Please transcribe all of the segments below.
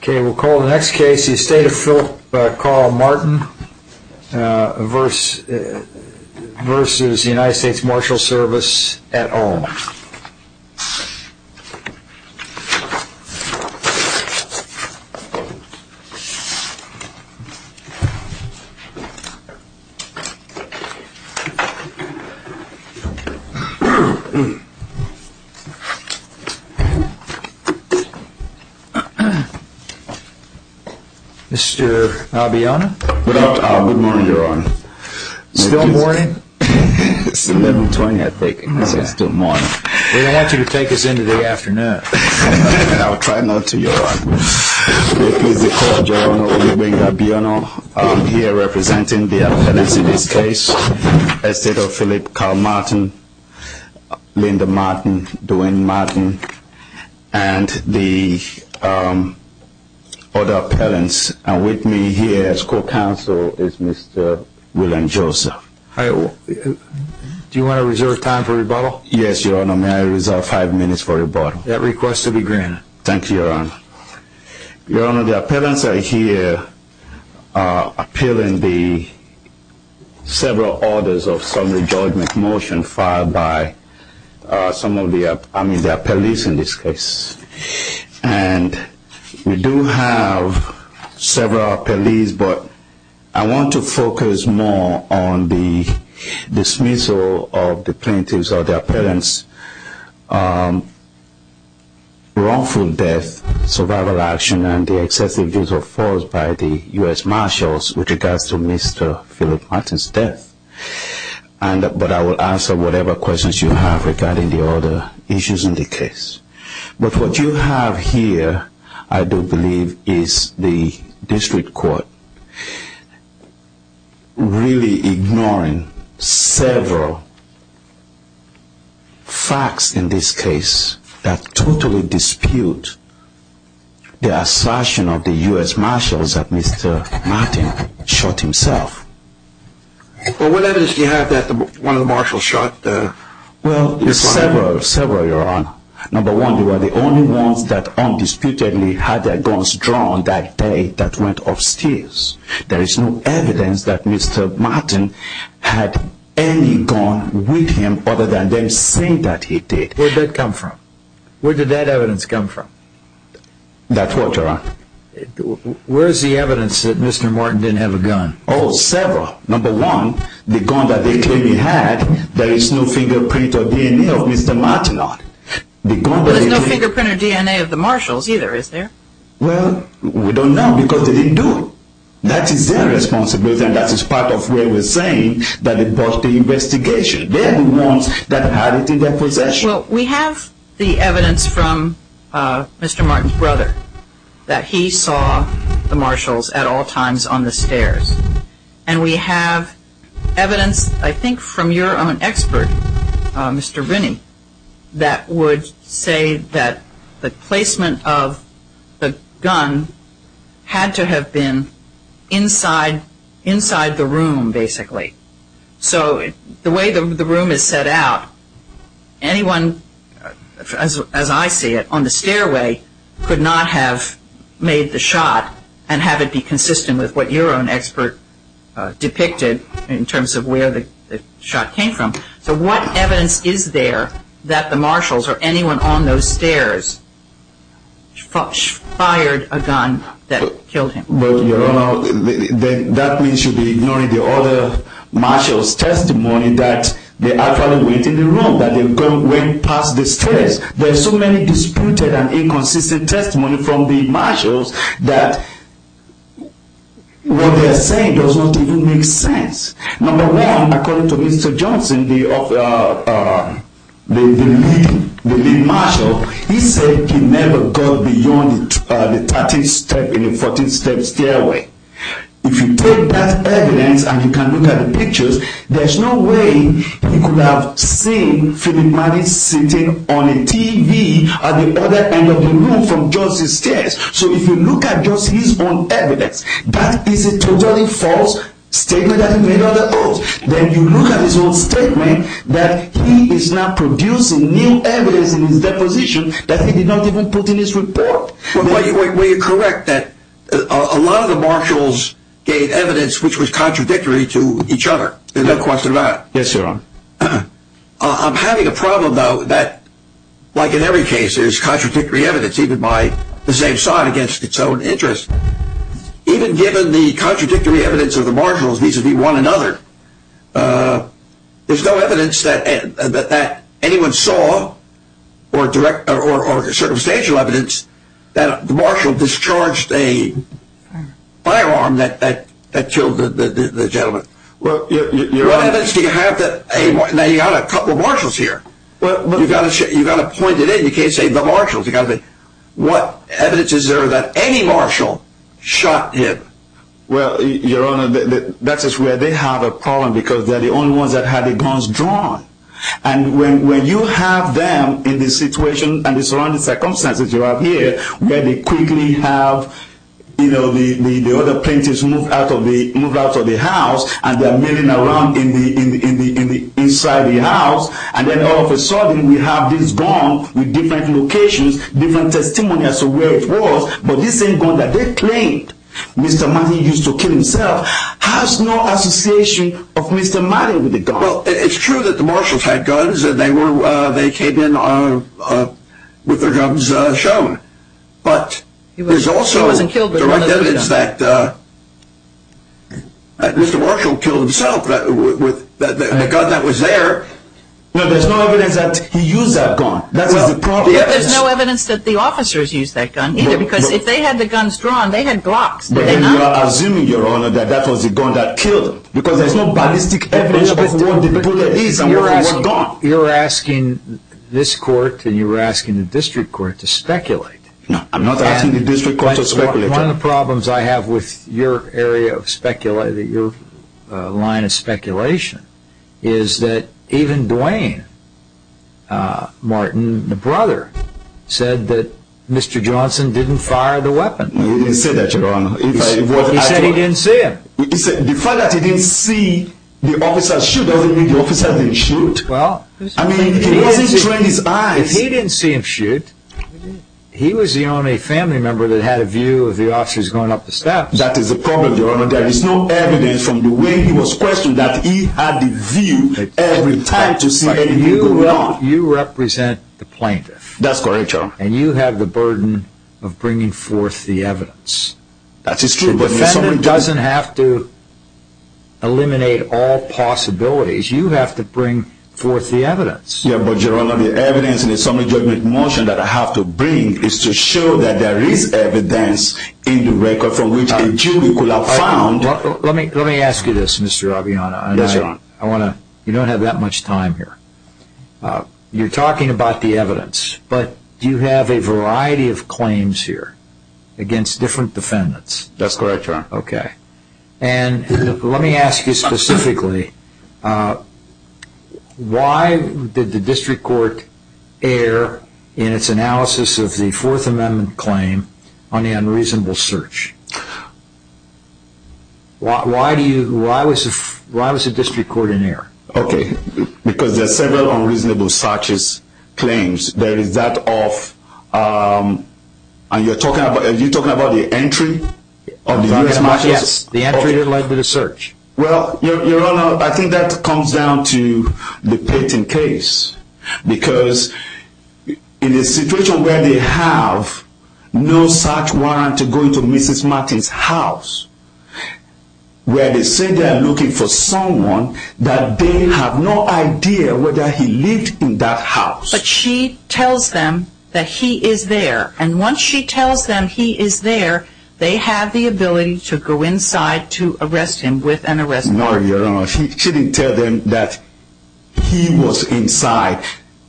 Okay, we'll call the next case the estate of Philip Carl Martin verse Versus the United States Marshals Service at all Mr. Abiona. Good morning, Your Honor. Still morning? It's 11.20, I think. It's still morning. We don't want you to take us into the afternoon. I'll try not to, Your Honor. This is the court, Your Honor. We bring Abiona here representing the appellants in this case. Estate of Philip Carl Martin, Linda Martin, Dwayne Martin, and the other appellants. And with me here as co-counsel is Mr. William Joseph. Do you want to reserve time for rebuttal? Yes, Your Honor. May I reserve five minutes for rebuttal? That request will be granted. Thank you, Your Honor. Your Honor, the appellants are here appealing the several orders of summary judgment motion filed by some of the appellees in this case. And we do have several appellees, but I want to focus more on the dismissal of the plaintiffs or their parents' wrongful death, survival action, and the excessive use of force by the US Marshals with regards to Mr. Philip Martin's death. But I will answer whatever questions you have regarding the other issues in the case. But what you have here, I do believe, is the district court really ignoring several facts in this case that totally dispute the assertion of the US Marshals that Mr. Martin shot himself. Well, what evidence do you have that one of the Marshals shot Mr. Martin? Well, several, Your Honor. Number one, they were the only ones that undisputedly had their guns drawn that day that went upstairs. There is no evidence that Mr. Martin had any gun with him other than them saying that he did. Where did that come from? Where did that evidence come from? That's what, Your Honor. Where is the evidence that Mr. Martin didn't have a gun? Oh, several. Number one, the gun that they claim he had, there is no fingerprint or DNA of Mr. Martin on it. Well, there's no fingerprint or DNA of the Marshals either, is there? Well, we don't know because they didn't do it. That is their responsibility and that is part of where we're saying that they brought the investigation. They're the ones that had it in their possession. Well, we have the evidence from Mr. Martin's brother that he saw the Marshals at all times on the stairs. And we have evidence, I think, from your own expert, Mr. Binney, that would say that the placement of the gun had to have been inside the room, basically. So the way the room is set out, anyone, as I see it, on the stairway could not have made the shot and have it be consistent with what your own expert depicted in terms of where the shot came from. So what evidence is there that the Marshals or anyone on those stairs fired a gun that killed him? That means you should be ignoring the other Marshals' testimony that they actually went in the room, that they went past the stairs. There's so many disputed and inconsistent testimony from the Marshals that what they're saying does not even make sense. Number one, according to Mr. Johnson, the lead Marshal, he said he never got beyond the 13th step in the 14th step stairway. If you take that evidence and you can look at the pictures, there's no way you could have seen Philip Martin sitting on a TV at the other end of the room from Johnson's stairs. So if you look at just his own evidence, that is a totally false statement that he made on the oath. Then you look at his own statement that he is now producing new evidence in his deposition that he did not even put in his report. Were you correct that a lot of the Marshals gave evidence which was contradictory to each other? Yes, Your Honor. I'm having a problem, though, that, like in every case, there's contradictory evidence, even by the same side, against its own interest. Even given the contradictory evidence of the Marshals vis-a-vis one another, there's no evidence that anyone saw or circumstantial evidence that the Marshal discharged a firearm that killed the gentleman. Now you've got a couple of Marshals here. You've got to point it in. You can't say the Marshals. What evidence is there that any Marshal shot him? Well, Your Honor, that's where they have a problem because they're the only ones that had the guns drawn. And when you have them in the situation and the surrounding circumstances you have here, where they quickly have the other plaintiffs move out of the house and they're milling around inside the house, and then all of a sudden we have this gun with different locations, different testimonies of where it was, but this same gun that they claimed Mr. Martin used to kill himself, has no association of Mr. Martin with the gun. Well, it's true that the Marshals had guns and they came in with their guns shown, but there's also direct evidence that Mr. Marshall killed himself with the gun that was there. No, there's no evidence that he used that gun. There's no evidence that the officers used that gun either because if they had the guns drawn, they had glocks. Then you're assuming, Your Honor, that that was the gun that killed him because there's no ballistic evidence of where the bullet is and where it was gone. You're asking this court and you're asking the district court to speculate. No, I'm not asking the district court to speculate. One of the problems I have with your area of speculation, your line of speculation, is that even Duane Martin, the brother, said that Mr. Johnson didn't fire the weapon. He didn't say that, Your Honor. He said he didn't see it. The fact that he didn't see the officers shoot doesn't mean the officers didn't shoot. I mean, he wasn't trying his eyes. If he didn't see him shoot, he was the only family member that had a view of the officers going up the steps. That is the problem, Your Honor. There is no evidence from the way he was questioned that he had the view every time to see anything going on. You represent the plaintiff. That's correct, Your Honor. And you have the burden of bringing forth the evidence. That is true. The defendant doesn't have to eliminate all possibilities. You have to bring forth the evidence. Yes, but Your Honor, the evidence in the summary judgment motion that I have to bring is to show that there is evidence in the record from which a jury could have found... Let me ask you this, Mr. Aviano. Yes, Your Honor. You don't have that much time here. You're talking about the evidence, but you have a variety of claims here against different defendants. That's correct, Your Honor. Okay. And let me ask you specifically, why did the district court err in its analysis of the Fourth Amendment claim on the unreasonable search? Why was the district court in error? Okay. Because there are several unreasonable searches claims. There is that of... And you're talking about the entry of the U.S. Martins? Yes, the entry that led to the search. Well, Your Honor, I think that comes down to the Peyton case. Because in a situation where they have no such warrant to go into Mrs. Martins' house, where they say they're looking for someone, that they have no idea whether he lived in that house. But she tells them that he is there. And once she tells them he is there, they have the ability to go inside to arrest him with an arrest warrant. No, Your Honor. She didn't tell them that he was inside.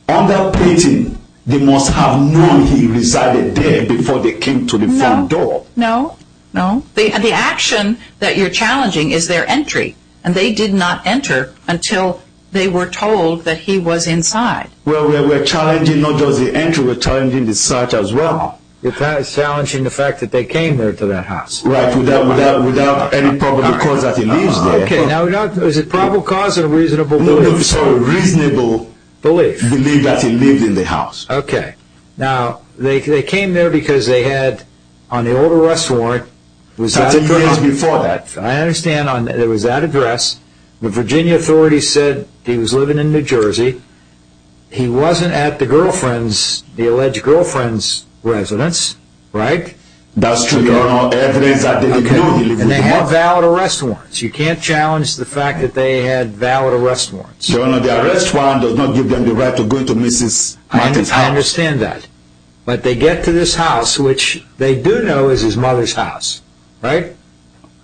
On that Peyton, they must have known he resided there before they came to the front door. No. No. The action that you're challenging is their entry. And they did not enter until they were told that he was inside. Well, we're challenging not just the entry. We're challenging the search as well. You're challenging the fact that they came there to that house. Right. Without any probable cause that he lives there. Okay. Now, is it probable cause or reasonable belief? No. No. Sorry. Reasonable belief. Belief that he lived in the house. Okay. Now, they came there because they had on the old arrest warrant... 30 years before that. I understand there was that address. The Virginia authorities said he was living in New Jersey. He wasn't at the alleged girlfriend's residence. Right? That's true, Your Honor. Evidence that they didn't know he lived in the house. And they had valid arrest warrants. You can't challenge the fact that they had valid arrest warrants. Your Honor, the arrest warrant does not give them the right to go into Mrs. Martin's house. I understand that. But they get to this house, which they do know is his mother's house. Right?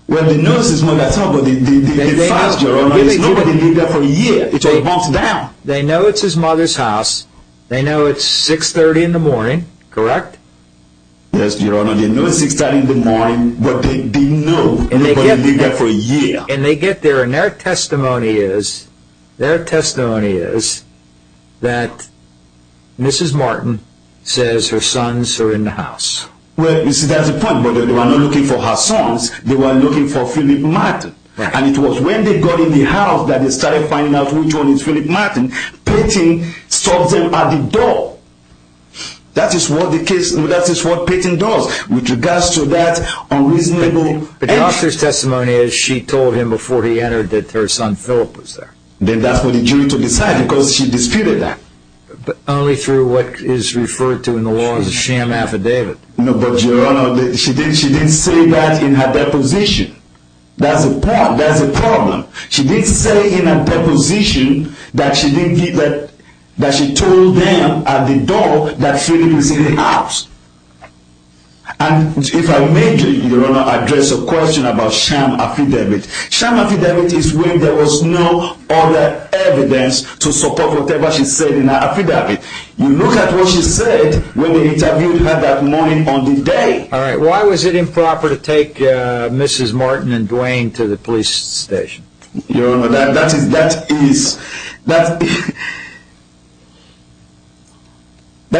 Well, they know it's his mother's house, but the files, Your Honor, nobody lived there for a year. It's a month down. They know it's his mother's house. They know it's 630 in the morning. Correct? Yes, Your Honor. They know it's 630 in the morning, but they didn't know anybody lived there for a year. And they get there, and their testimony is... Their testimony is that Mrs. Martin says her sons are in the house. Well, you see, that's the point. But they were not looking for her sons. They were looking for Philip Martin. And it was when they got in the house that they started finding out which one is Philip Martin. Payton stopped them at the door. That is what Payton does with regards to that unreasonable... But the doctor's testimony is she told him before he entered that her son Philip was there. Then that's for the jury to decide because she disputed that. But only through what is referred to in the law as a sham affidavit. No, but, Your Honor, she didn't say that in her deposition. That's a problem. She didn't say in her deposition that she told them at the door that Philip was in the house. And if I may, Your Honor, address a question about sham affidavit. Sham affidavit is when there was no other evidence to support whatever she said in her affidavit. You look at what she said when they interviewed her that morning on the day. Why was it improper to take Mrs. Martin and Dwayne to the police station? Your Honor, that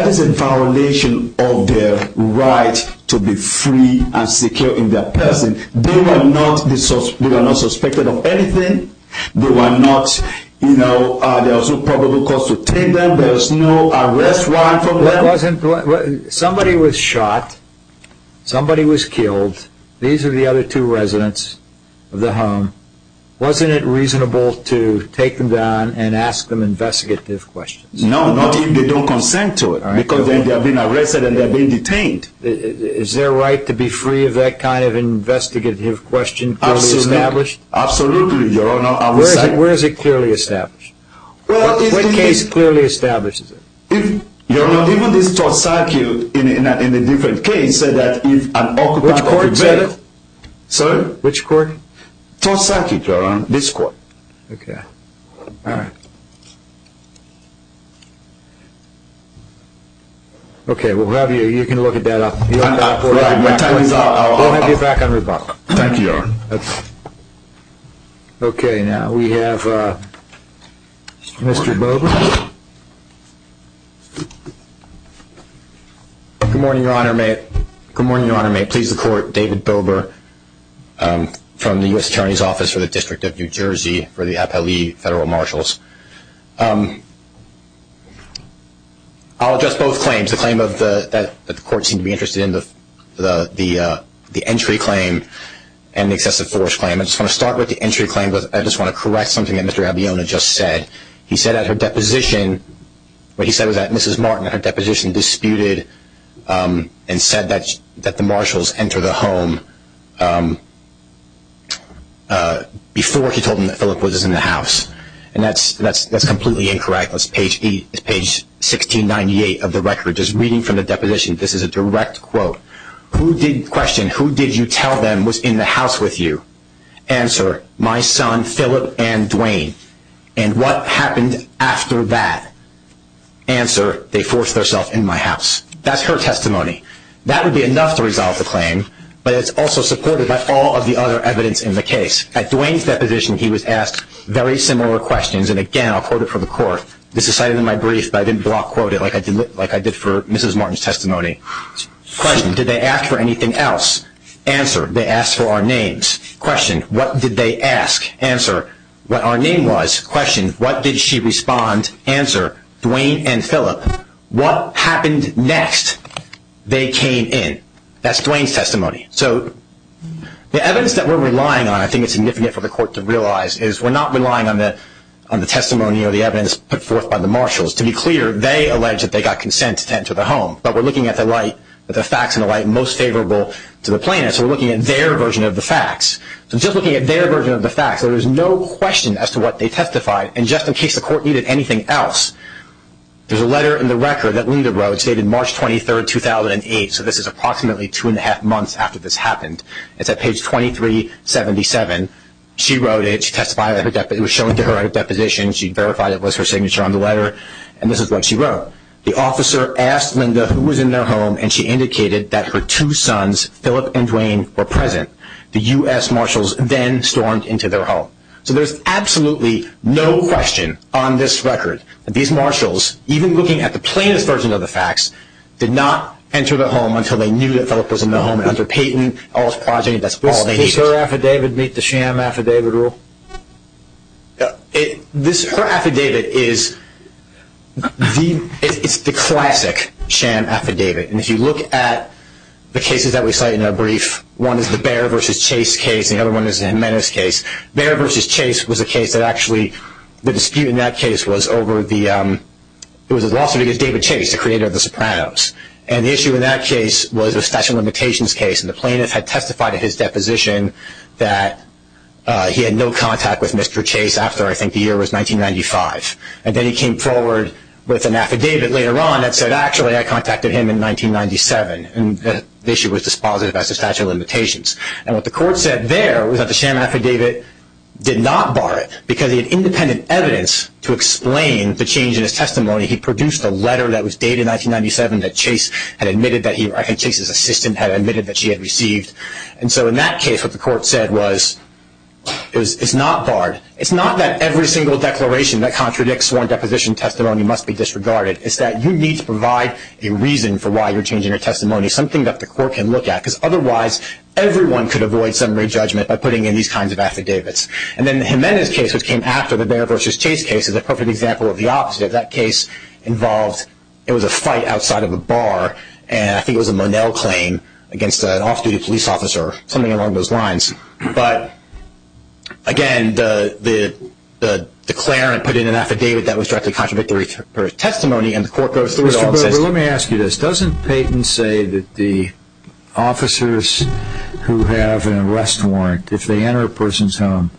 is a violation of their right to be free and secure in their prison. They were not suspected of anything. There was no probable cause to take them. There was no arrest warrant for them. Somebody was shot. Somebody was killed. These are the other two residents of the home. Wasn't it reasonable to take them down and ask them investigative questions? No, not if they don't consent to it. Because then they are being arrested and they are being detained. Is their right to be free of that kind of investigative question clearly established? Absolutely, Your Honor. Where is it clearly established? What case clearly establishes it? Your Honor, even this Tosaki, in a different case, said that if an occupant of the bed... Which court said it? Sorry? Which court? Tosaki, Your Honor. This court. Okay. All right. Okay, we'll have you, you can look at that. We'll have you back on rebuttal. Thank you, Your Honor. Okay, now we have Mr. Bowman. Good morning, Your Honor. Good morning, Your Honor. May it please the Court, David Bilber from the U.S. Attorney's Office for the District of New Jersey for the Appellee Federal Marshals. I'll address both claims, the claim that the Court seemed to be interested in, the entry claim and the excessive force claim. I just want to start with the entry claim. I just want to correct something that Mr. Abiona just said. He said at her deposition, what he said was that Mrs. Martin, at her deposition, disputed and said that the marshals enter the home before she told him that Phillip was in the house. And that's completely incorrect. That's page 1698 of the record. Just reading from the deposition, this is a direct quote. Question, who did you tell them was in the house with you? Answer, my son Phillip and Duane. And what happened after that? Answer, they forced themselves in my house. That's her testimony. That would be enough to resolve the claim, but it's also supported by all of the other evidence in the case. At Duane's deposition, he was asked very similar questions. And, again, I'll quote it for the Court. This is cited in my brief, but I didn't block quote it like I did for Mrs. Martin's testimony. Question, did they ask for anything else? Answer, they asked for our names. Question, what did they ask? Answer, what our name was. Question, what did she respond? Answer, Duane and Phillip. What happened next? They came in. That's Duane's testimony. So the evidence that we're relying on, I think it's significant for the Court to realize, is we're not relying on the testimony or the evidence put forth by the marshals. To be clear, they allege that they got consent to enter the home, but we're looking at the facts and the light most favorable to the plaintiff. So we're looking at their version of the facts. So just looking at their version of the facts, there is no question as to what they testified. And just in case the Court needed anything else, there's a letter in the record that Linda wrote, dated March 23, 2008. So this is approximately two and a half months after this happened. It's at page 2377. She wrote it. She testified that it was shown to her at a deposition. She verified it was her signature on the letter. And this is what she wrote. The officer asked Linda who was in their home, and she indicated that her two sons, Phillip and Duane, were present. The U.S. marshals then stormed into their home. So there's absolutely no question on this record that these marshals, even looking at the plaintiff's version of the facts, did not enter the home until they knew that Phillip was in the home. And under Payton, all is progeny. That's all they needed. Does her affidavit meet the sham affidavit rule? Her affidavit is the classic sham affidavit. And if you look at the cases that we cite in our brief, one is the Behr v. Chase case and the other one is the Jimenez case. Behr v. Chase was a case that actually the dispute in that case was over the lawsuit against David Chase, the creator of the Sopranos. And the issue in that case was a statute of limitations case, and the plaintiff had testified at his deposition that he had no contact with Mr. Chase after I think the year was 1995. And then he came forward with an affidavit later on that said, actually I contacted him in 1997. And the issue was dispositive as to statute of limitations. And what the court said there was that the sham affidavit did not bar it because he had independent evidence to explain the change in his testimony. He produced a letter that was dated 1997 that Chase had admitted that he or Chase's assistant had admitted that she had received. And so in that case what the court said was it's not barred. It's not that every single declaration that contradicts sworn deposition testimony must be disregarded. It's that you need to provide a reason for why you're changing your testimony, something that the court can look at, because otherwise everyone could avoid summary judgment by putting in these kinds of affidavits. And then Jimenez's case, which came after the Bair versus Chase case, is a perfect example of the opposite. That case involved it was a fight outside of a bar, and I think it was a Monell claim against an off-duty police officer, something along those lines. But, again, the declarant put in an affidavit that was directly contradictory to her testimony, and the court goes through it all. Mr. Bober, let me ask you this. Doesn't Payton say that the officers who have an arrest warrant, if they enter a person's home,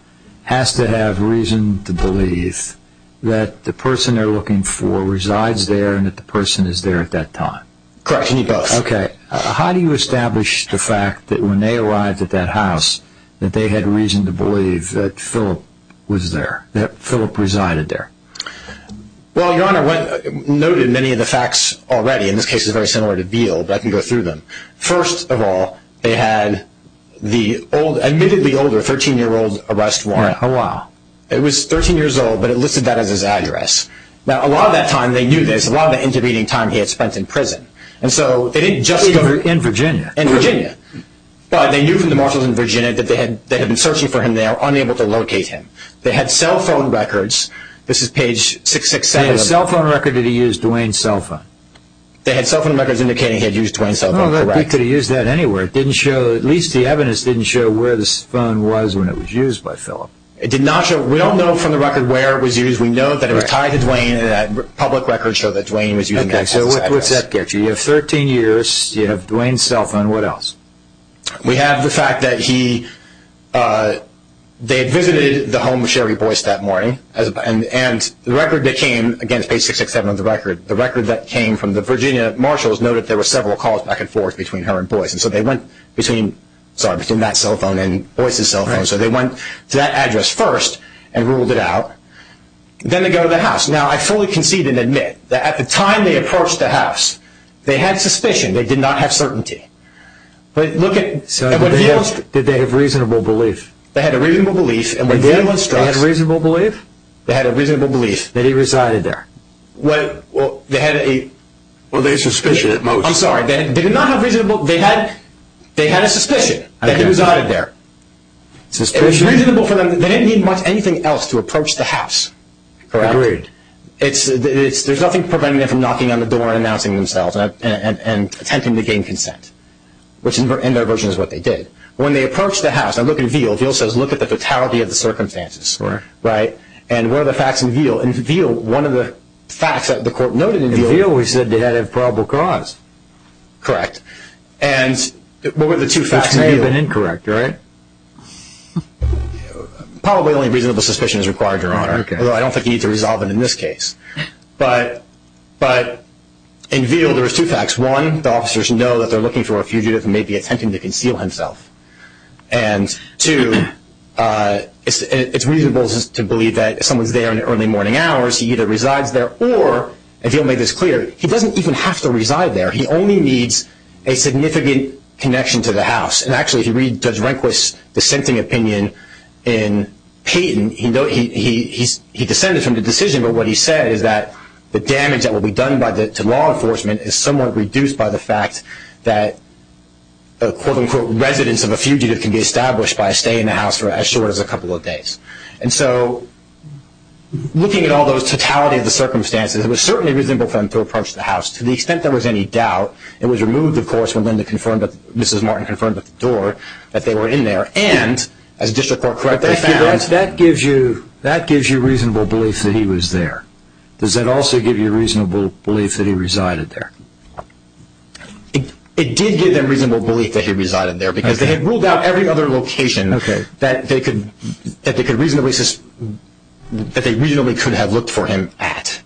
has to have reason to believe that the person they're looking for resides there and that the person is there at that time? Correct. And he does. Okay. How do you establish the fact that when they arrived at that house that they had reason to believe that Phillip was there, that Phillip resided there? Well, Your Honor, noted many of the facts already. In this case, it's very similar to Beal, but I can go through them. First of all, they had the admittedly older 13-year-old arrest warrant. Oh, wow. It was 13 years old, but it listed that as his address. Now, a lot of that time, they knew this, a lot of the intervening time he had spent in prison. And so they didn't just go to – In Virginia. In Virginia. But they knew from the marshals in Virginia that they had been searching for him and they were unable to locate him. They had cell phone records. This is page 667. They had a cell phone record. Did he use Dwayne's cell phone? They had cell phone records indicating he had used Dwayne's cell phone. Correct. He could have used that anywhere. It didn't show – at least the evidence didn't show where this phone was when it was used by Phillip. It did not show – we don't know from the record where it was used. We know that it was tied to Dwayne, and that public records show that Dwayne was using that cell phone. Okay. So what's that get you? You have 13 years. You have Dwayne's cell phone. What else? We have the fact that he – he visited the home of Sherry Boyce that morning. And the record that came – again, it's page 667 of the record. The record that came from the Virginia marshals noted there were several calls back and forth between her and Boyce. And so they went between – sorry, between that cell phone and Boyce's cell phone. So they went to that address first and ruled it out. Then they go to the house. Now, I fully concede and admit that at the time they approached the house, they had suspicion. They did not have certainty. But look at – Did they have reasonable belief? They had a reasonable belief. And when Dwayne was struck – Did they have reasonable belief? They had a reasonable belief that he resided there. Well, they had a – Well, they had suspicion at most. I'm sorry. They did not have reasonable – they had a suspicion that he resided there. It was reasonable for them. They didn't need much anything else to approach the house. Agreed. It's – there's nothing preventing them from knocking on the door and announcing themselves and attempting to gain consent, which in their version is what they did. When they approached the house, now look at Veal. Veal says, look at the totality of the circumstances. Right. And what are the facts in Veal? In Veal, one of the facts that the court noted in Veal – In Veal, we said they had a probable cause. Correct. And what were the two facts in Veal? Which may have been incorrect, right? Probably only reasonable suspicion is required, Your Honor, although I don't think you need to resolve it in this case. But in Veal, there are two facts. One, the officers know that they're looking for a fugitive who may be attempting to conceal himself. And two, it's reasonable to believe that if someone's there in the early morning hours, he either resides there or, and Veal made this clear, he doesn't even have to reside there. He only needs a significant connection to the house. And actually, if you read Judge Rehnquist's dissenting opinion in Payton, he dissented from the decision, but what he said is that the damage that will be done to law enforcement is somewhat reduced by the fact that a, quote-unquote, residence of a fugitive can be established by a stay in the house for as short as a couple of days. And so, looking at all those totality of the circumstances, it was certainly reasonable for him to approach the house. To the extent there was any doubt, it was removed, of course, when Mrs. Martin confirmed at the door that they were in there. And, as District Court correctly found – But that gives you reasonable belief that he was there. Does that also give you reasonable belief that he resided there? It did give them reasonable belief that he resided there because they had ruled out every other location that they could reasonably – that they reasonably could have looked for him at.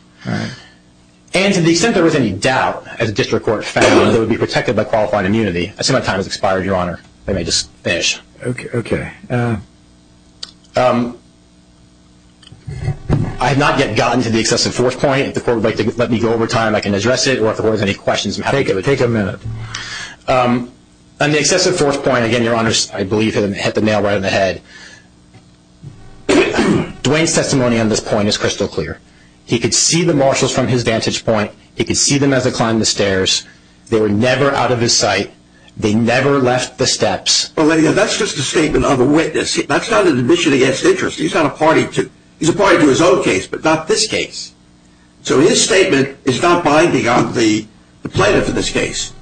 And to the extent there was any doubt, as District Court found, that he would be protected by qualified immunity – I see my time has expired, Your Honor. Let me just finish. Okay, okay. I have not yet gotten to the excessive force point. If the Court would like to let me go over time, I can address it. Or if there were any questions – Take a minute. On the excessive force point, again, Your Honor, I believe hit the nail right on the head. Duane's testimony on this point is crystal clear. He could see the marshals from his vantage point. He could see them as they climbed the stairs. They were never out of his sight. They never left the steps. Well, that's just a statement of a witness. That's not an admission against interest. He's not a party to – he's a party to his own case, but not this case. So his statement is not binding on the plaintiff in this case.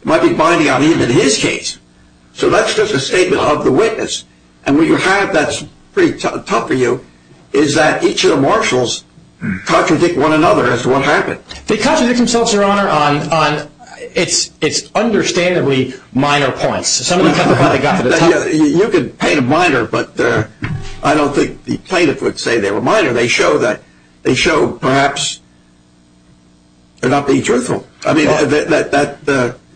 It might be binding on even his case. So that's just a statement of the witness. And what you have that's pretty tough for you is that each of the marshals contradict one another as to what happened. They contradict themselves, Your Honor, on – it's understandably minor points. You could paint them minor, but I don't think the plaintiff would say they were minor. They show that – they show perhaps they're not being truthful. I mean, that –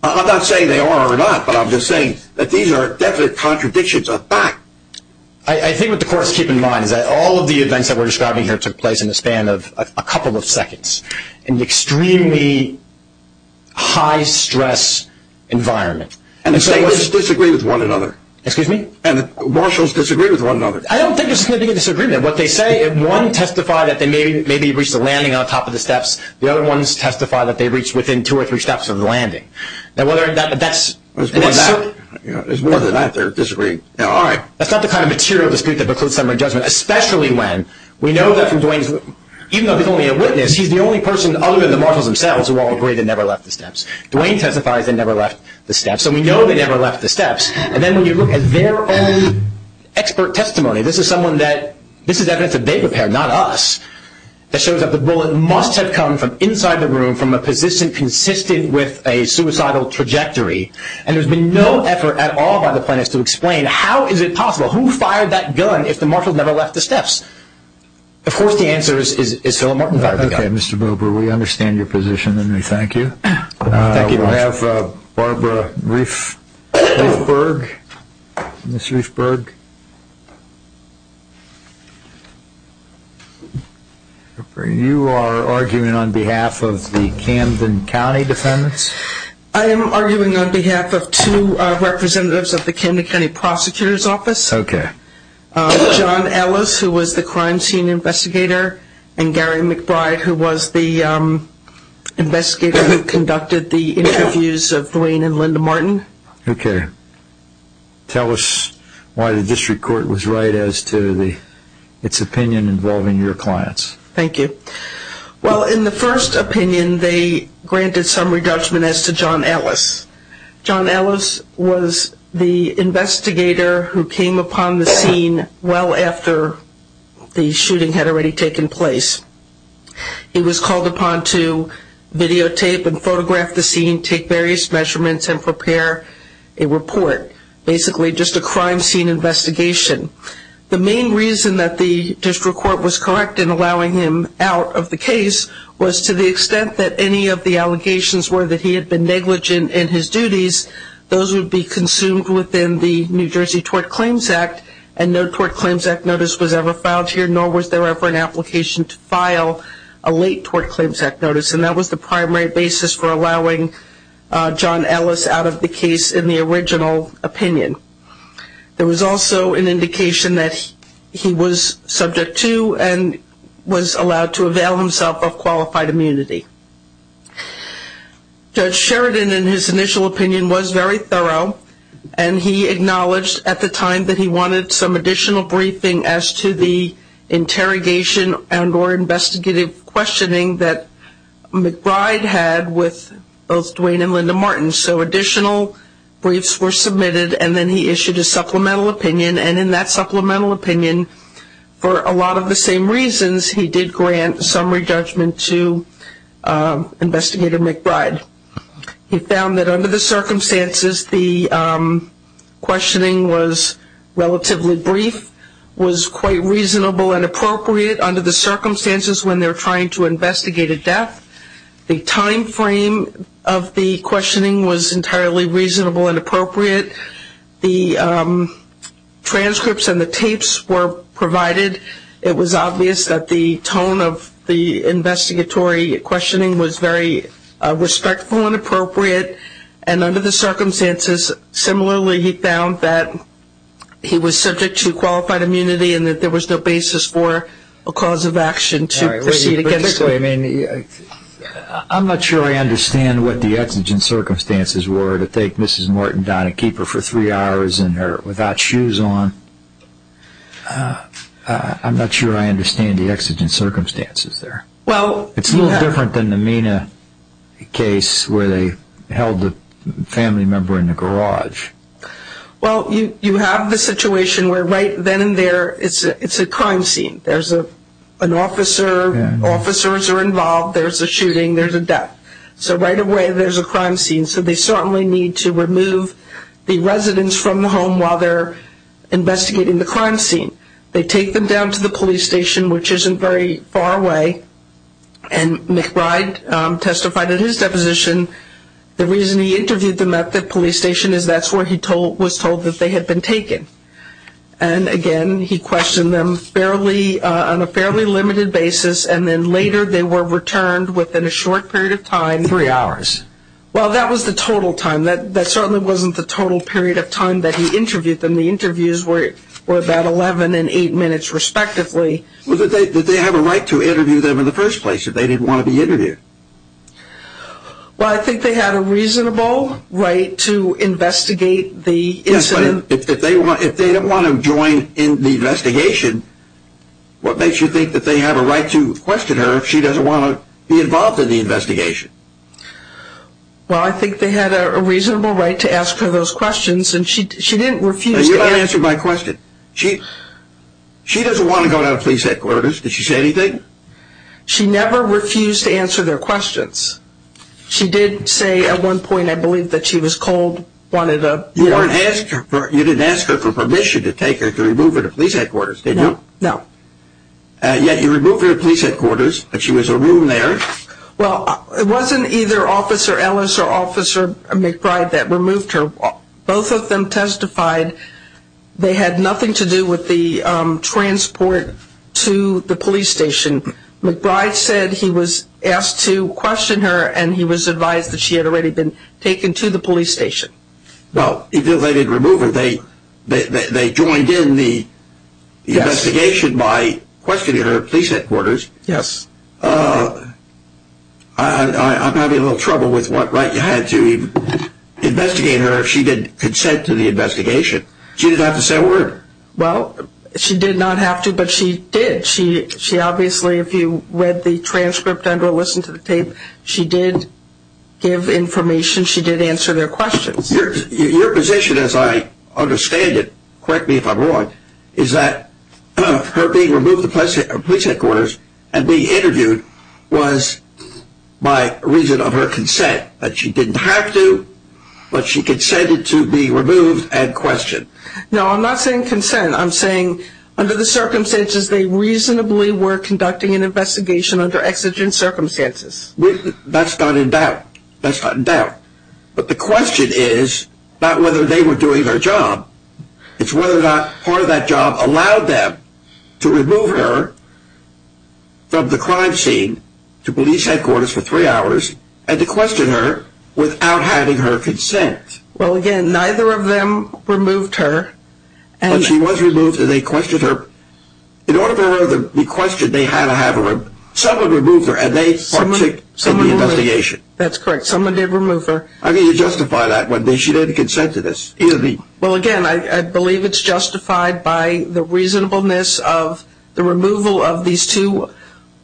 I'm not saying they are or not, but I'm just saying that these are definite contradictions of fact. I think what the courts keep in mind is that all of the events that we're describing here took place in the span of a couple of seconds in an extremely high-stress environment. And the statements disagree with one another. Excuse me? And the marshals disagree with one another. I don't think there's significant disagreement. What they say – one testified that they maybe reached the landing on top of the steps. The other ones testify that they reached within two or three steps of the landing. Now, whether that's – There's more than that. There's more than that. They're disagreeing. All right. That's not the kind of material dispute that precludes summary judgment, especially when we know that from Duane's – even though he's only a witness, he's the only person other than the marshals themselves who all agree they never left the steps. Duane testifies they never left the steps. And we know they never left the steps. And then when you look at their own expert testimony – this is someone that – this is evidence that they prepared, not us – that shows that the bullet must have come from inside the room from a position consistent with a suicidal trajectory. And there's been no effort at all by the plaintiffs to explain how is it possible. Who fired that gun if the marshals never left the steps? Of course the answer is Philip Martin fired the gun. Okay, Mr. Bober, we understand your position, and we thank you. Thank you very much. We'll have Barbara Riefberg. Ms. Riefberg. You are arguing on behalf of the Camden County defendants? I am arguing on behalf of two representatives of the Camden County Prosecutor's Office. Okay. John Ellis, who was the crime scene investigator, and Gary McBride, who was the investigator who conducted the interviews of Duane and Linda Martin. Okay. Tell us why the district court was right as to its opinion involving your clients. Thank you. Well, in the first opinion, they granted some re-judgment as to John Ellis. John Ellis was the investigator who came upon the scene well after the shooting had already taken place. He was called upon to videotape and photograph the scene, take various measurements, and prepare a report, basically just a crime scene investigation. The main reason that the district court was correct in allowing him out of the case was to the extent that any of the allegations were that he had been negligent in his duties, those would be consumed within the New Jersey Tort Claims Act, and no Tort Claims Act notice was ever filed here, nor was there ever an application to file a late Tort Claims Act notice. And that was the primary basis for allowing John Ellis out of the case in the original opinion. There was also an indication that he was subject to and was allowed to avail himself of qualified immunity. Judge Sheridan, in his initial opinion, was very thorough, and he acknowledged at the time that he wanted some additional briefing as to the interrogation and or investigative questioning that McBride had with both Duane and Linda Martin. And so additional briefs were submitted, and then he issued a supplemental opinion. And in that supplemental opinion, for a lot of the same reasons, he did grant summary judgment to Investigator McBride. He found that under the circumstances, the questioning was relatively brief, was quite reasonable and appropriate under the circumstances when they're trying to investigate a death. The time frame of the questioning was entirely reasonable and appropriate. The transcripts and the tapes were provided. It was obvious that the tone of the investigatory questioning was very respectful and appropriate. And under the circumstances, similarly, he found that he was subject to qualified immunity and that there was no basis for a cause of action to proceed against him. Anyway, I mean, I'm not sure I understand what the exigent circumstances were to take Mrs. Martin down and keep her for three hours without shoes on. I'm not sure I understand the exigent circumstances there. It's a little different than the Mina case where they held a family member in the garage. Well, you have the situation where right then and there, it's a crime scene. There's an officer. Officers are involved. There's a shooting. There's a death. So right away, there's a crime scene. So they certainly need to remove the residents from the home while they're investigating the crime scene. They take them down to the police station, which isn't very far away, and McBride testified in his deposition. The reason he interviewed them at the police station is that's where he was told that they had been taken. And again, he questioned them on a fairly limited basis, and then later they were returned within a short period of time. Three hours. Well, that was the total time. That certainly wasn't the total period of time that he interviewed them. The interviews were about 11 and 8 minutes respectively. Did they have a right to interview them in the first place if they didn't want to be interviewed? Well, I think they had a reasonable right to investigate the incident. But if they didn't want to join in the investigation, what makes you think that they have a right to question her if she doesn't want to be involved in the investigation? Well, I think they had a reasonable right to ask her those questions, and she didn't refuse to answer. You don't answer my question. She doesn't want to go down to the police headquarters. Did she say anything? She never refused to answer their questions. She did say at one point, I believe, that she was cold. You didn't ask her for permission to take her, to remove her to police headquarters, did you? No. Yet you removed her to police headquarters, but she was alone there. Well, it wasn't either Officer Ellis or Officer McBride that removed her. Both of them testified they had nothing to do with the transport to the police station. McBride said he was asked to question her, and he was advised that she had already been taken to the police station. Well, even though they didn't remove her, they joined in the investigation by questioning her at police headquarters. Yes. I'm having a little trouble with what right you had to investigate her if she didn't consent to the investigation. She didn't have to say a word. Well, she did not have to, but she did. Obviously, if you read the transcript and or listened to the tape, she did give information. She did answer their questions. Your position, as I understand it, correct me if I'm wrong, is that her being removed to police headquarters and being interviewed was by reason of her consent, that she didn't have to, but she consented to be removed and questioned. No, I'm not saying consent. I'm saying under the circumstances they reasonably were conducting an investigation under exigent circumstances. That's not in doubt. That's not in doubt. But the question is not whether they were doing their job. It's whether or not part of that job allowed them to remove her from the crime scene to police headquarters for three hours and to question her without having her consent. Well, again, neither of them removed her. But she was removed, and they questioned her. In order for her to be questioned, they had to have someone remove her, and they partook in the investigation. That's correct. Someone did remove her. I mean, you justify that. She didn't consent to this. Well, again, I believe it's justified by the reasonableness of the removal of these two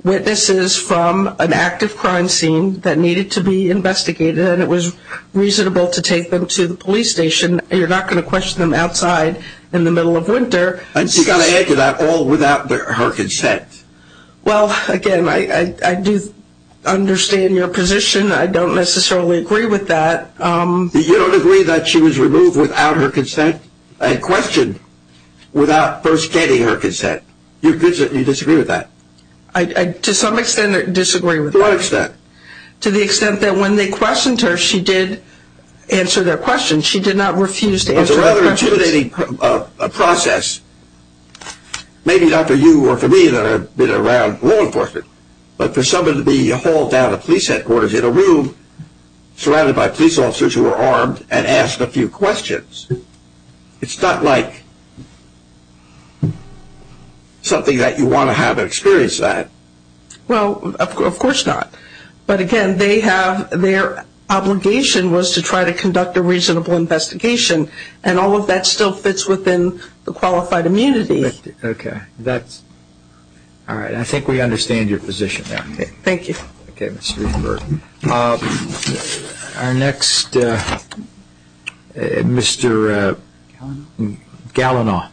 witnesses from an active crime scene that needed to be investigated, and it was reasonable to take them to the police station. You're not going to question them outside in the middle of winter. And she got to answer that all without her consent. Well, again, I do understand your position. I don't necessarily agree with that. You don't agree that she was removed without her consent and questioned without first getting her consent? You disagree with that? To some extent, I disagree with that. To what extent? To the extent that when they questioned her, she did answer their questions. She did not refuse to answer their questions. It's a rather intimidating process, maybe not for you or for me that have been around law enforcement, but for someone to be hauled down to police headquarters in a room surrounded by police officers who are armed and asked a few questions. It's not like something that you want to have experience that. Well, of course not. But, again, their obligation was to try to conduct a reasonable investigation, and all of that still fits within the qualified immunity. Okay. I think we understand your position now. Thank you. Okay, Mr. Rosenberg. Our next, Mr. Gallinaw,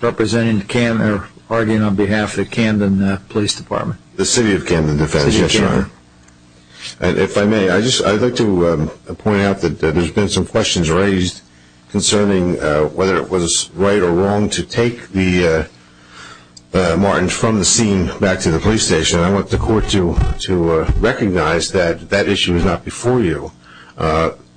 representing the Kandan, arguing on behalf of the Kandan Police Department. The City of Kandan Defense, yes, Your Honor. If I may, I'd like to point out that there have been some questions raised concerning whether it was right or wrong to take the Martins from the scene back to the police station. And I want the Court to recognize that that issue is not before you.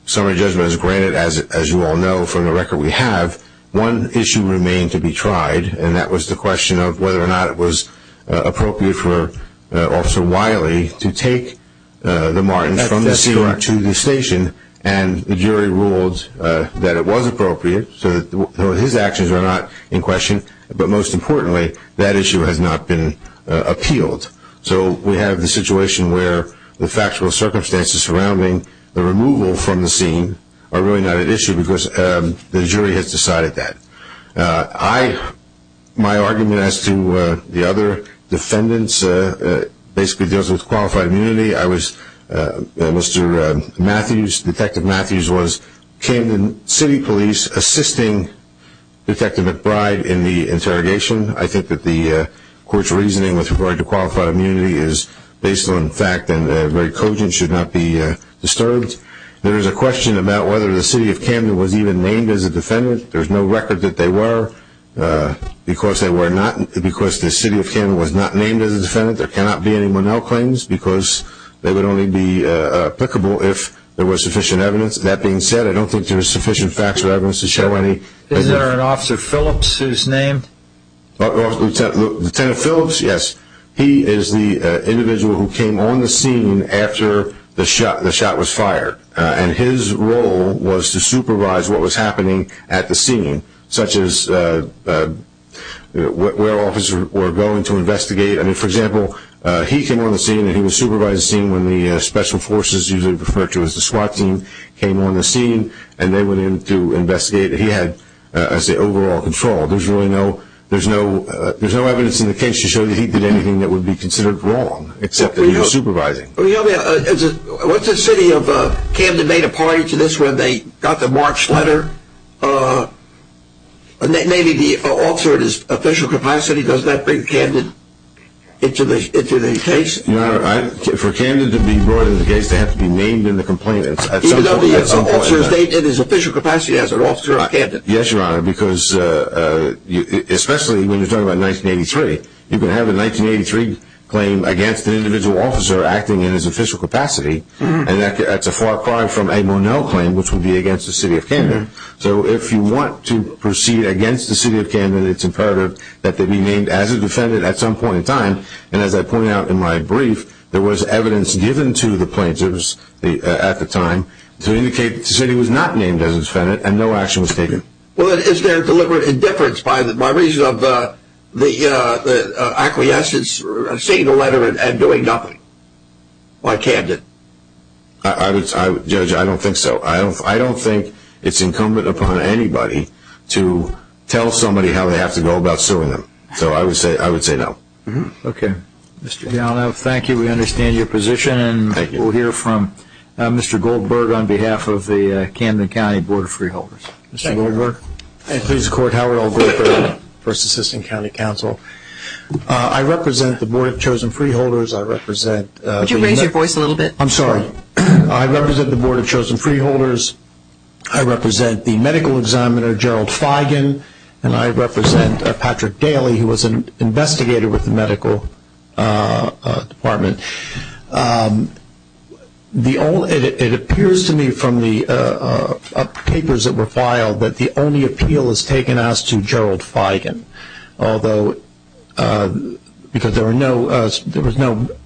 Summary judgment is granted, as you all know from the record we have. One issue remained to be tried, and that was the question of whether or not it was appropriate for Officer Wiley to take the Martins from the scene to the station. And the jury ruled that it was appropriate, so his actions are not in question. But most importantly, that issue has not been appealed. So we have the situation where the factual circumstances surrounding the removal from the scene are really not at issue because the jury has decided that. My argument as to the other defendants basically deals with qualified immunity. Mr. Matthews, Detective Matthews, was Kandan City Police assisting Detective McBride in the interrogation. I think that the Court's reasoning with regard to qualified immunity is based on fact and very cogent, should not be disturbed. There is a question about whether the City of Kandan was even named as a defendant. There's no record that they were. Because the City of Kandan was not named as a defendant, there cannot be any Monell claims because they would only be applicable if there was sufficient evidence. That being said, I don't think there's sufficient facts or evidence to show any. Is there an Officer Phillips whose name? Lieutenant Phillips, yes. He is the individual who came on the scene after the shot was fired. And his role was to supervise what was happening at the scene, such as where officers were going to investigate. For example, he came on the scene. He supervised the scene when the special forces, usually referred to as the SWAT team, came on the scene. And they went in to investigate. He had, I'd say, overall control. There's no evidence in the case to show that he did anything that would be considered wrong, except that he was supervising. What's the City of Kandan made a party to this when they got the March letter? Maybe the Officer at his official capacity does that bring Kandan? Into the case? Your Honor, for Kandan to be brought into the case, they have to be named in the complaint. Even though the Officer is named in his official capacity as an officer of Kandan? Yes, Your Honor, because especially when you're talking about 1983, you can have a 1983 claim against an individual officer acting in his official capacity, and that's a far cry from a Monell claim, which would be against the City of Kandan. So if you want to proceed against the City of Kandan, it's imperative that they be named as a defendant at some point in time. And as I pointed out in my brief, there was evidence given to the plaintiffs at the time to indicate that the City was not named as a defendant and no action was taken. Well, is there deliberate indifference by reason of the acquiescence, seeing the letter and doing nothing by Kandan? Judge, I don't think so. I don't think it's incumbent upon anybody to tell somebody how they have to go about suing them. So I would say no. Okay. Mr. Gallo, thank you. We understand your position. Thank you. And we'll hear from Mr. Goldberg on behalf of the Kandan County Board of Freeholders. Thank you. Mr. Goldberg. And please record how I'll go for the First Assistant County Counsel. I represent the Board of Chosen Freeholders. Would you raise your voice a little bit? I'm sorry. I represent the Board of Chosen Freeholders. I represent the medical examiner, Gerald Feigen. And I represent Patrick Daly, who was an investigator with the medical department. It appears to me from the papers that were filed that the only appeal has taken us to Gerald Feigen, because there was no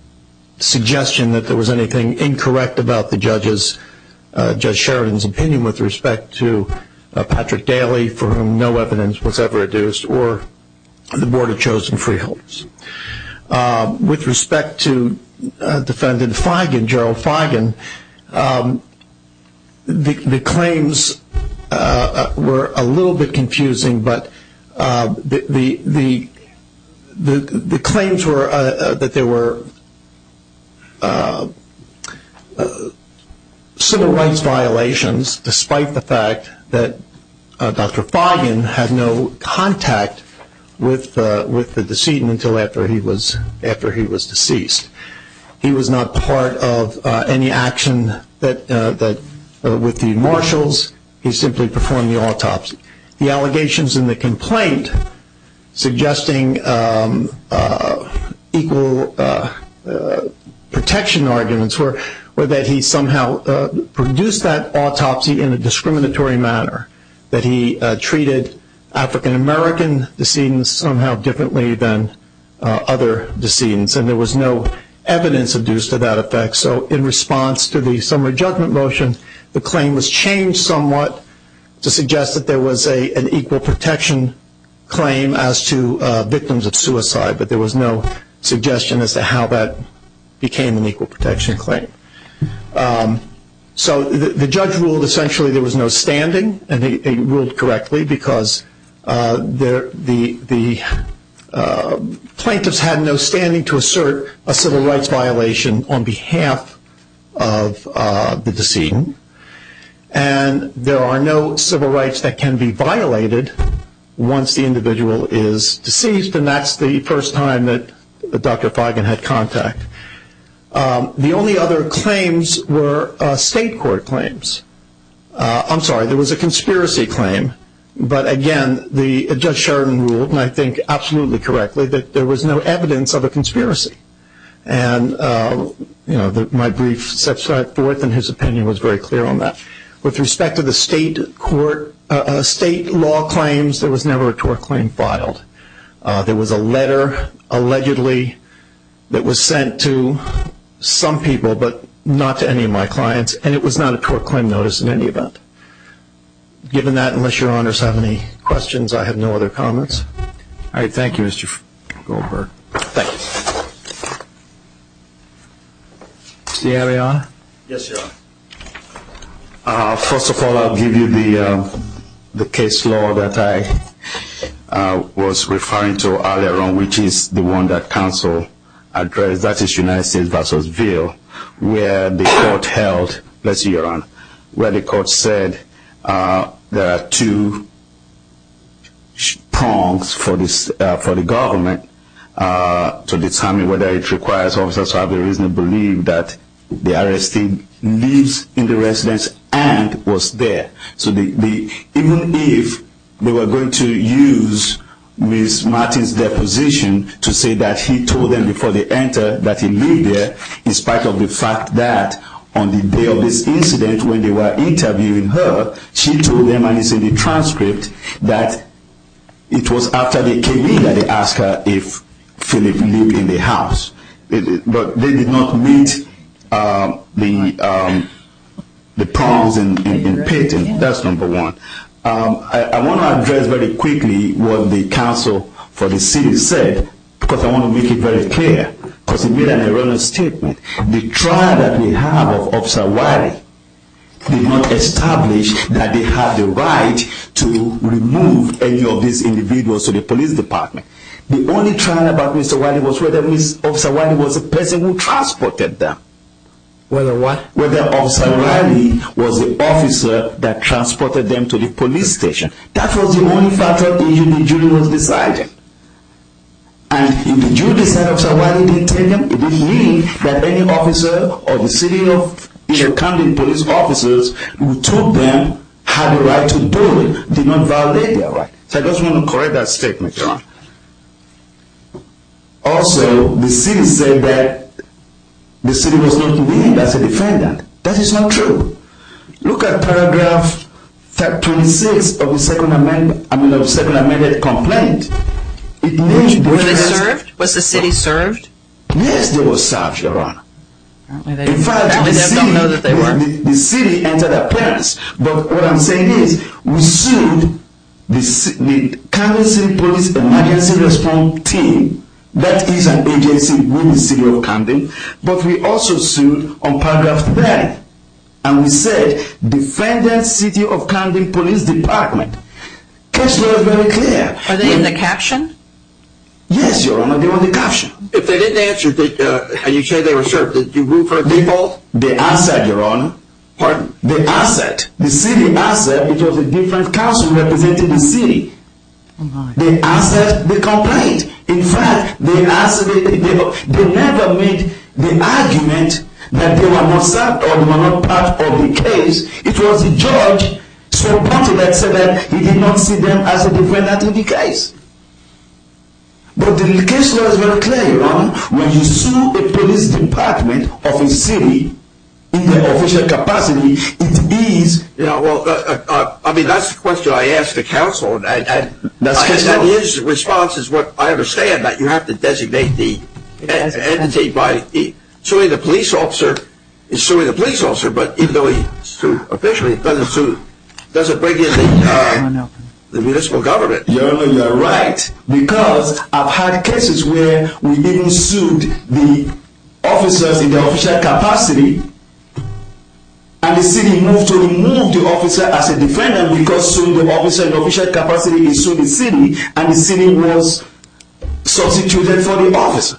suggestion that there was anything incorrect about Judge Sheridan's opinion with respect to Patrick Daly, for whom no evidence was ever adduced, or the Board of Chosen Freeholders. With respect to defendant Gerald Feigen, the claims were a little bit confusing, but the claims were that there were civil rights violations, despite the fact that Dr. Feigen had no contact with the decedent until after he was deceased. He was not part of any action with the marshals. He simply performed the autopsy. The allegations in the complaint suggesting equal protection arguments were that he somehow produced that autopsy in a discriminatory manner, that he treated African American decedents somehow differently than other decedents, and there was no evidence adduced to that effect. So in response to the summary judgment motion, the claim was changed somewhat to suggest that there was an equal protection claim as to victims of suicide, but there was no suggestion as to how that became an equal protection claim. So the judge ruled essentially there was no standing, and he ruled correctly because the plaintiffs had no standing to assert a civil rights violation on behalf of the decedent, and there are no civil rights that can be violated once the individual is deceased, and that's the first time that Dr. Feigen had contact. The only other claims were state court claims. I'm sorry, there was a conspiracy claim, but again, Judge Sheridan ruled, and I think absolutely correctly, that there was no evidence of a conspiracy, and my brief set forth and his opinion was very clear on that. With respect to the state law claims, there was never a tort claim filed. There was a letter allegedly that was sent to some people but not to any of my clients, and it was not a tort claim notice in any event. Given that, unless your honors have any questions, I have no other comments. All right, thank you, Mr. Goldberg. Thank you. Mr. Arianna? Yes, Your Honor. First of all, I'll give you the case law that I was referring to earlier on, which is the one that counsel addressed, that is United States v. Veal, where the court held, let's see, Your Honor, where the court said there are two prongs for the government to determine whether it requires officers to have a reasonable leave that the arrestee leaves in the residence and was there. So even if they were going to use Ms. Martin's deposition to say that he told them before they entered that he lived there, in spite of the fact that on the day of this incident, when they were interviewing her, she told them, and it's in the transcript, that it was after they came in that they asked her if Philip lived in the house. But they did not meet the prongs in patent. That's number one. I want to address very quickly what the counsel for the city said because I want to make it very clear. Because he made an erroneous statement. The trial that we have of Officer Wiley did not establish that they have the right to remove any of these individuals to the police department. The only trial about Mr. Wiley was whether Officer Wiley was the person who transported them. Whether what? Whether Officer Wiley was the officer that transported them to the police station. That was the only factor in which the jury was deciding. And if the jury decided Officer Wiley didn't take them, it didn't mean that any officer or the city of the county police officers who took them had the right to do it, did not violate their right. So I just want to correct that statement, Your Honor. Also, the city said that the city was not to be used as a defendant. That is not true. Look at paragraph 26 of the Second Amendment complaint. Were they served? Was the city served? Yes, they were served, Your Honor. Apparently, they don't know that they were. The city entered a penance. But what I'm saying is we sued the County City Police Emergency Response Team. That is an agency within the city of Camden. But we also sued on paragraph 30. And we said Defendant City of Camden Police Department. The case law is very clear. Are they in the caption? Yes, Your Honor. They were in the caption. If they didn't answer, are you sure they were served? Did you refer people? They answered, Your Honor. Pardon? They answered. The city answered because a different council represented the city. They answered the complaint. In fact, they never made the argument that they were not served or were not part of the case. It was the judge that said that he did not see them as a defendant in the case. But the case law is very clear, Your Honor. When you sue a police department of a city in the official capacity, it is. Yeah, well, I mean, that's the question I asked the council. His response is what I understand, that you have to designate the entity by suing the police officer. He's suing the police officer, but even though he sued officially, it doesn't bring in the municipal government. Your Honor, you're right. Because I've had cases where we even sued the officers in the official capacity. And the city moved to remove the officer as a defendant because the officer in the official capacity sued the city, and the city was substituted for the officer.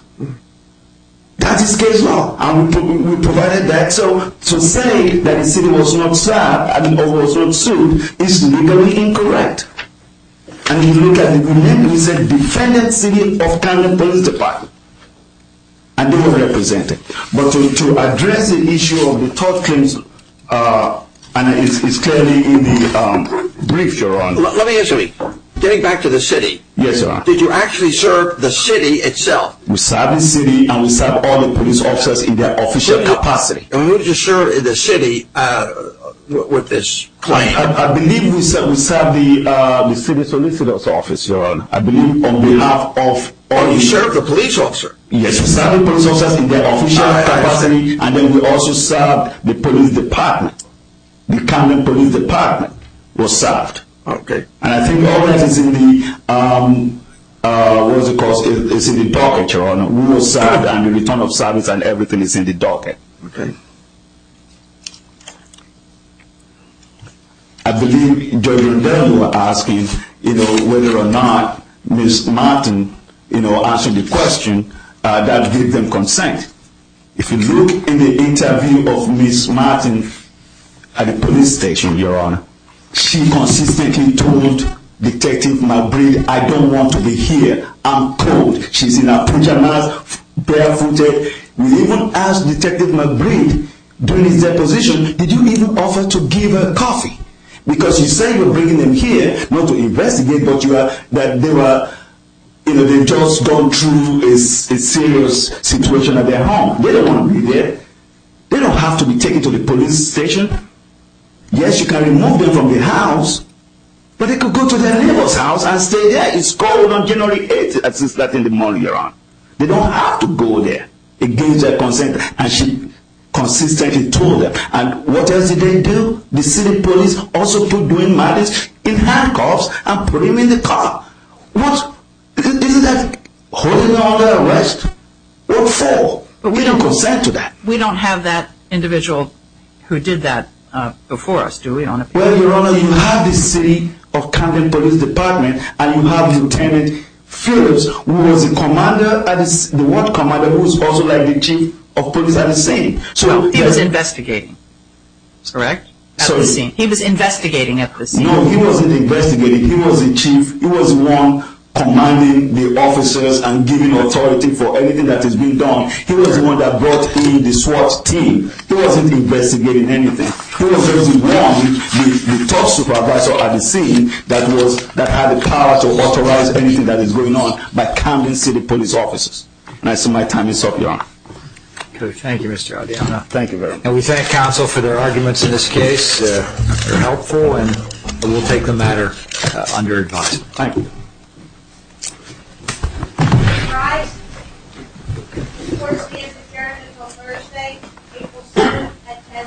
That is case law. And we provided that. So to say that the city was not served or was not sued is legally incorrect. And you look at it, we named it as a defendant city of Canada Police Department. And they were represented. But to address the issue of the tort claims, and it's clearly in the brief, Your Honor. Let me ask you something. Getting back to the city. Yes, Your Honor. Did you actually serve the city itself? We served the city, and we served all the police officers in their official capacity. And who did you serve in the city with this claim? I believe we served the city solicitor's office, Your Honor. I believe on behalf of... Oh, you served the police officer. Yes, we served the police officers in their official capacity, and then we also served the police department. The Canada Police Department was served. Okay. And I think all that is in the docket, Your Honor. We were served, and the return of service and everything is in the docket. Okay. I believe Judge Rondeau was asking, you know, whether or not Ms. Martin, you know, answered the question that gave them consent. If you look in the interview of Ms. Martin at the police station, Your Honor, she consistently told Detective McBride, I don't want to be here. I'm cold. She's in her pajamas, barefooted. We even asked Detective McBride during his deposition, did you even offer to give her coffee? Because you say you're bringing them here not to investigate, but you are, that they were, you know, they've just gone through a serious situation at their home. They don't want to be there. They don't have to be taken to the police station. Yes, you can remove them from the house, but they can go to their neighbor's house and stay there. It's cold on January 8th, at 6 o'clock in the morning, Your Honor. They don't have to go there. It gives them consent, and she consistently told them. And what else did they do? The city police also put them in handcuffs and put them in the car. What? Isn't that holding them under arrest? What for? We don't consent to that. We don't have that individual who did that before us, do we, Your Honor? Well, Your Honor, you have the city of Camden Police Department, and you have Lieutenant Phillips, who was the ward commander, who was also like the chief of police at the scene. He was investigating, correct, at the scene? He was investigating at the scene. No, he wasn't investigating. He was the chief. He was the one commanding the officers and giving authority for everything that is being done. He was the one that brought in the SWAT team. He wasn't investigating anything. He was the one, the top supervisor at the scene, that had the power to authorize anything that is going on by Camden City Police officers. And so my time is up, Your Honor. Okay. Thank you, Mr. Adeyemana. Thank you very much. And we thank counsel for their arguments in this case. They're helpful, and we'll take the matter under advice. Thank you. All rise. This court is adjourned until Thursday, April 7th, at 10 a.m.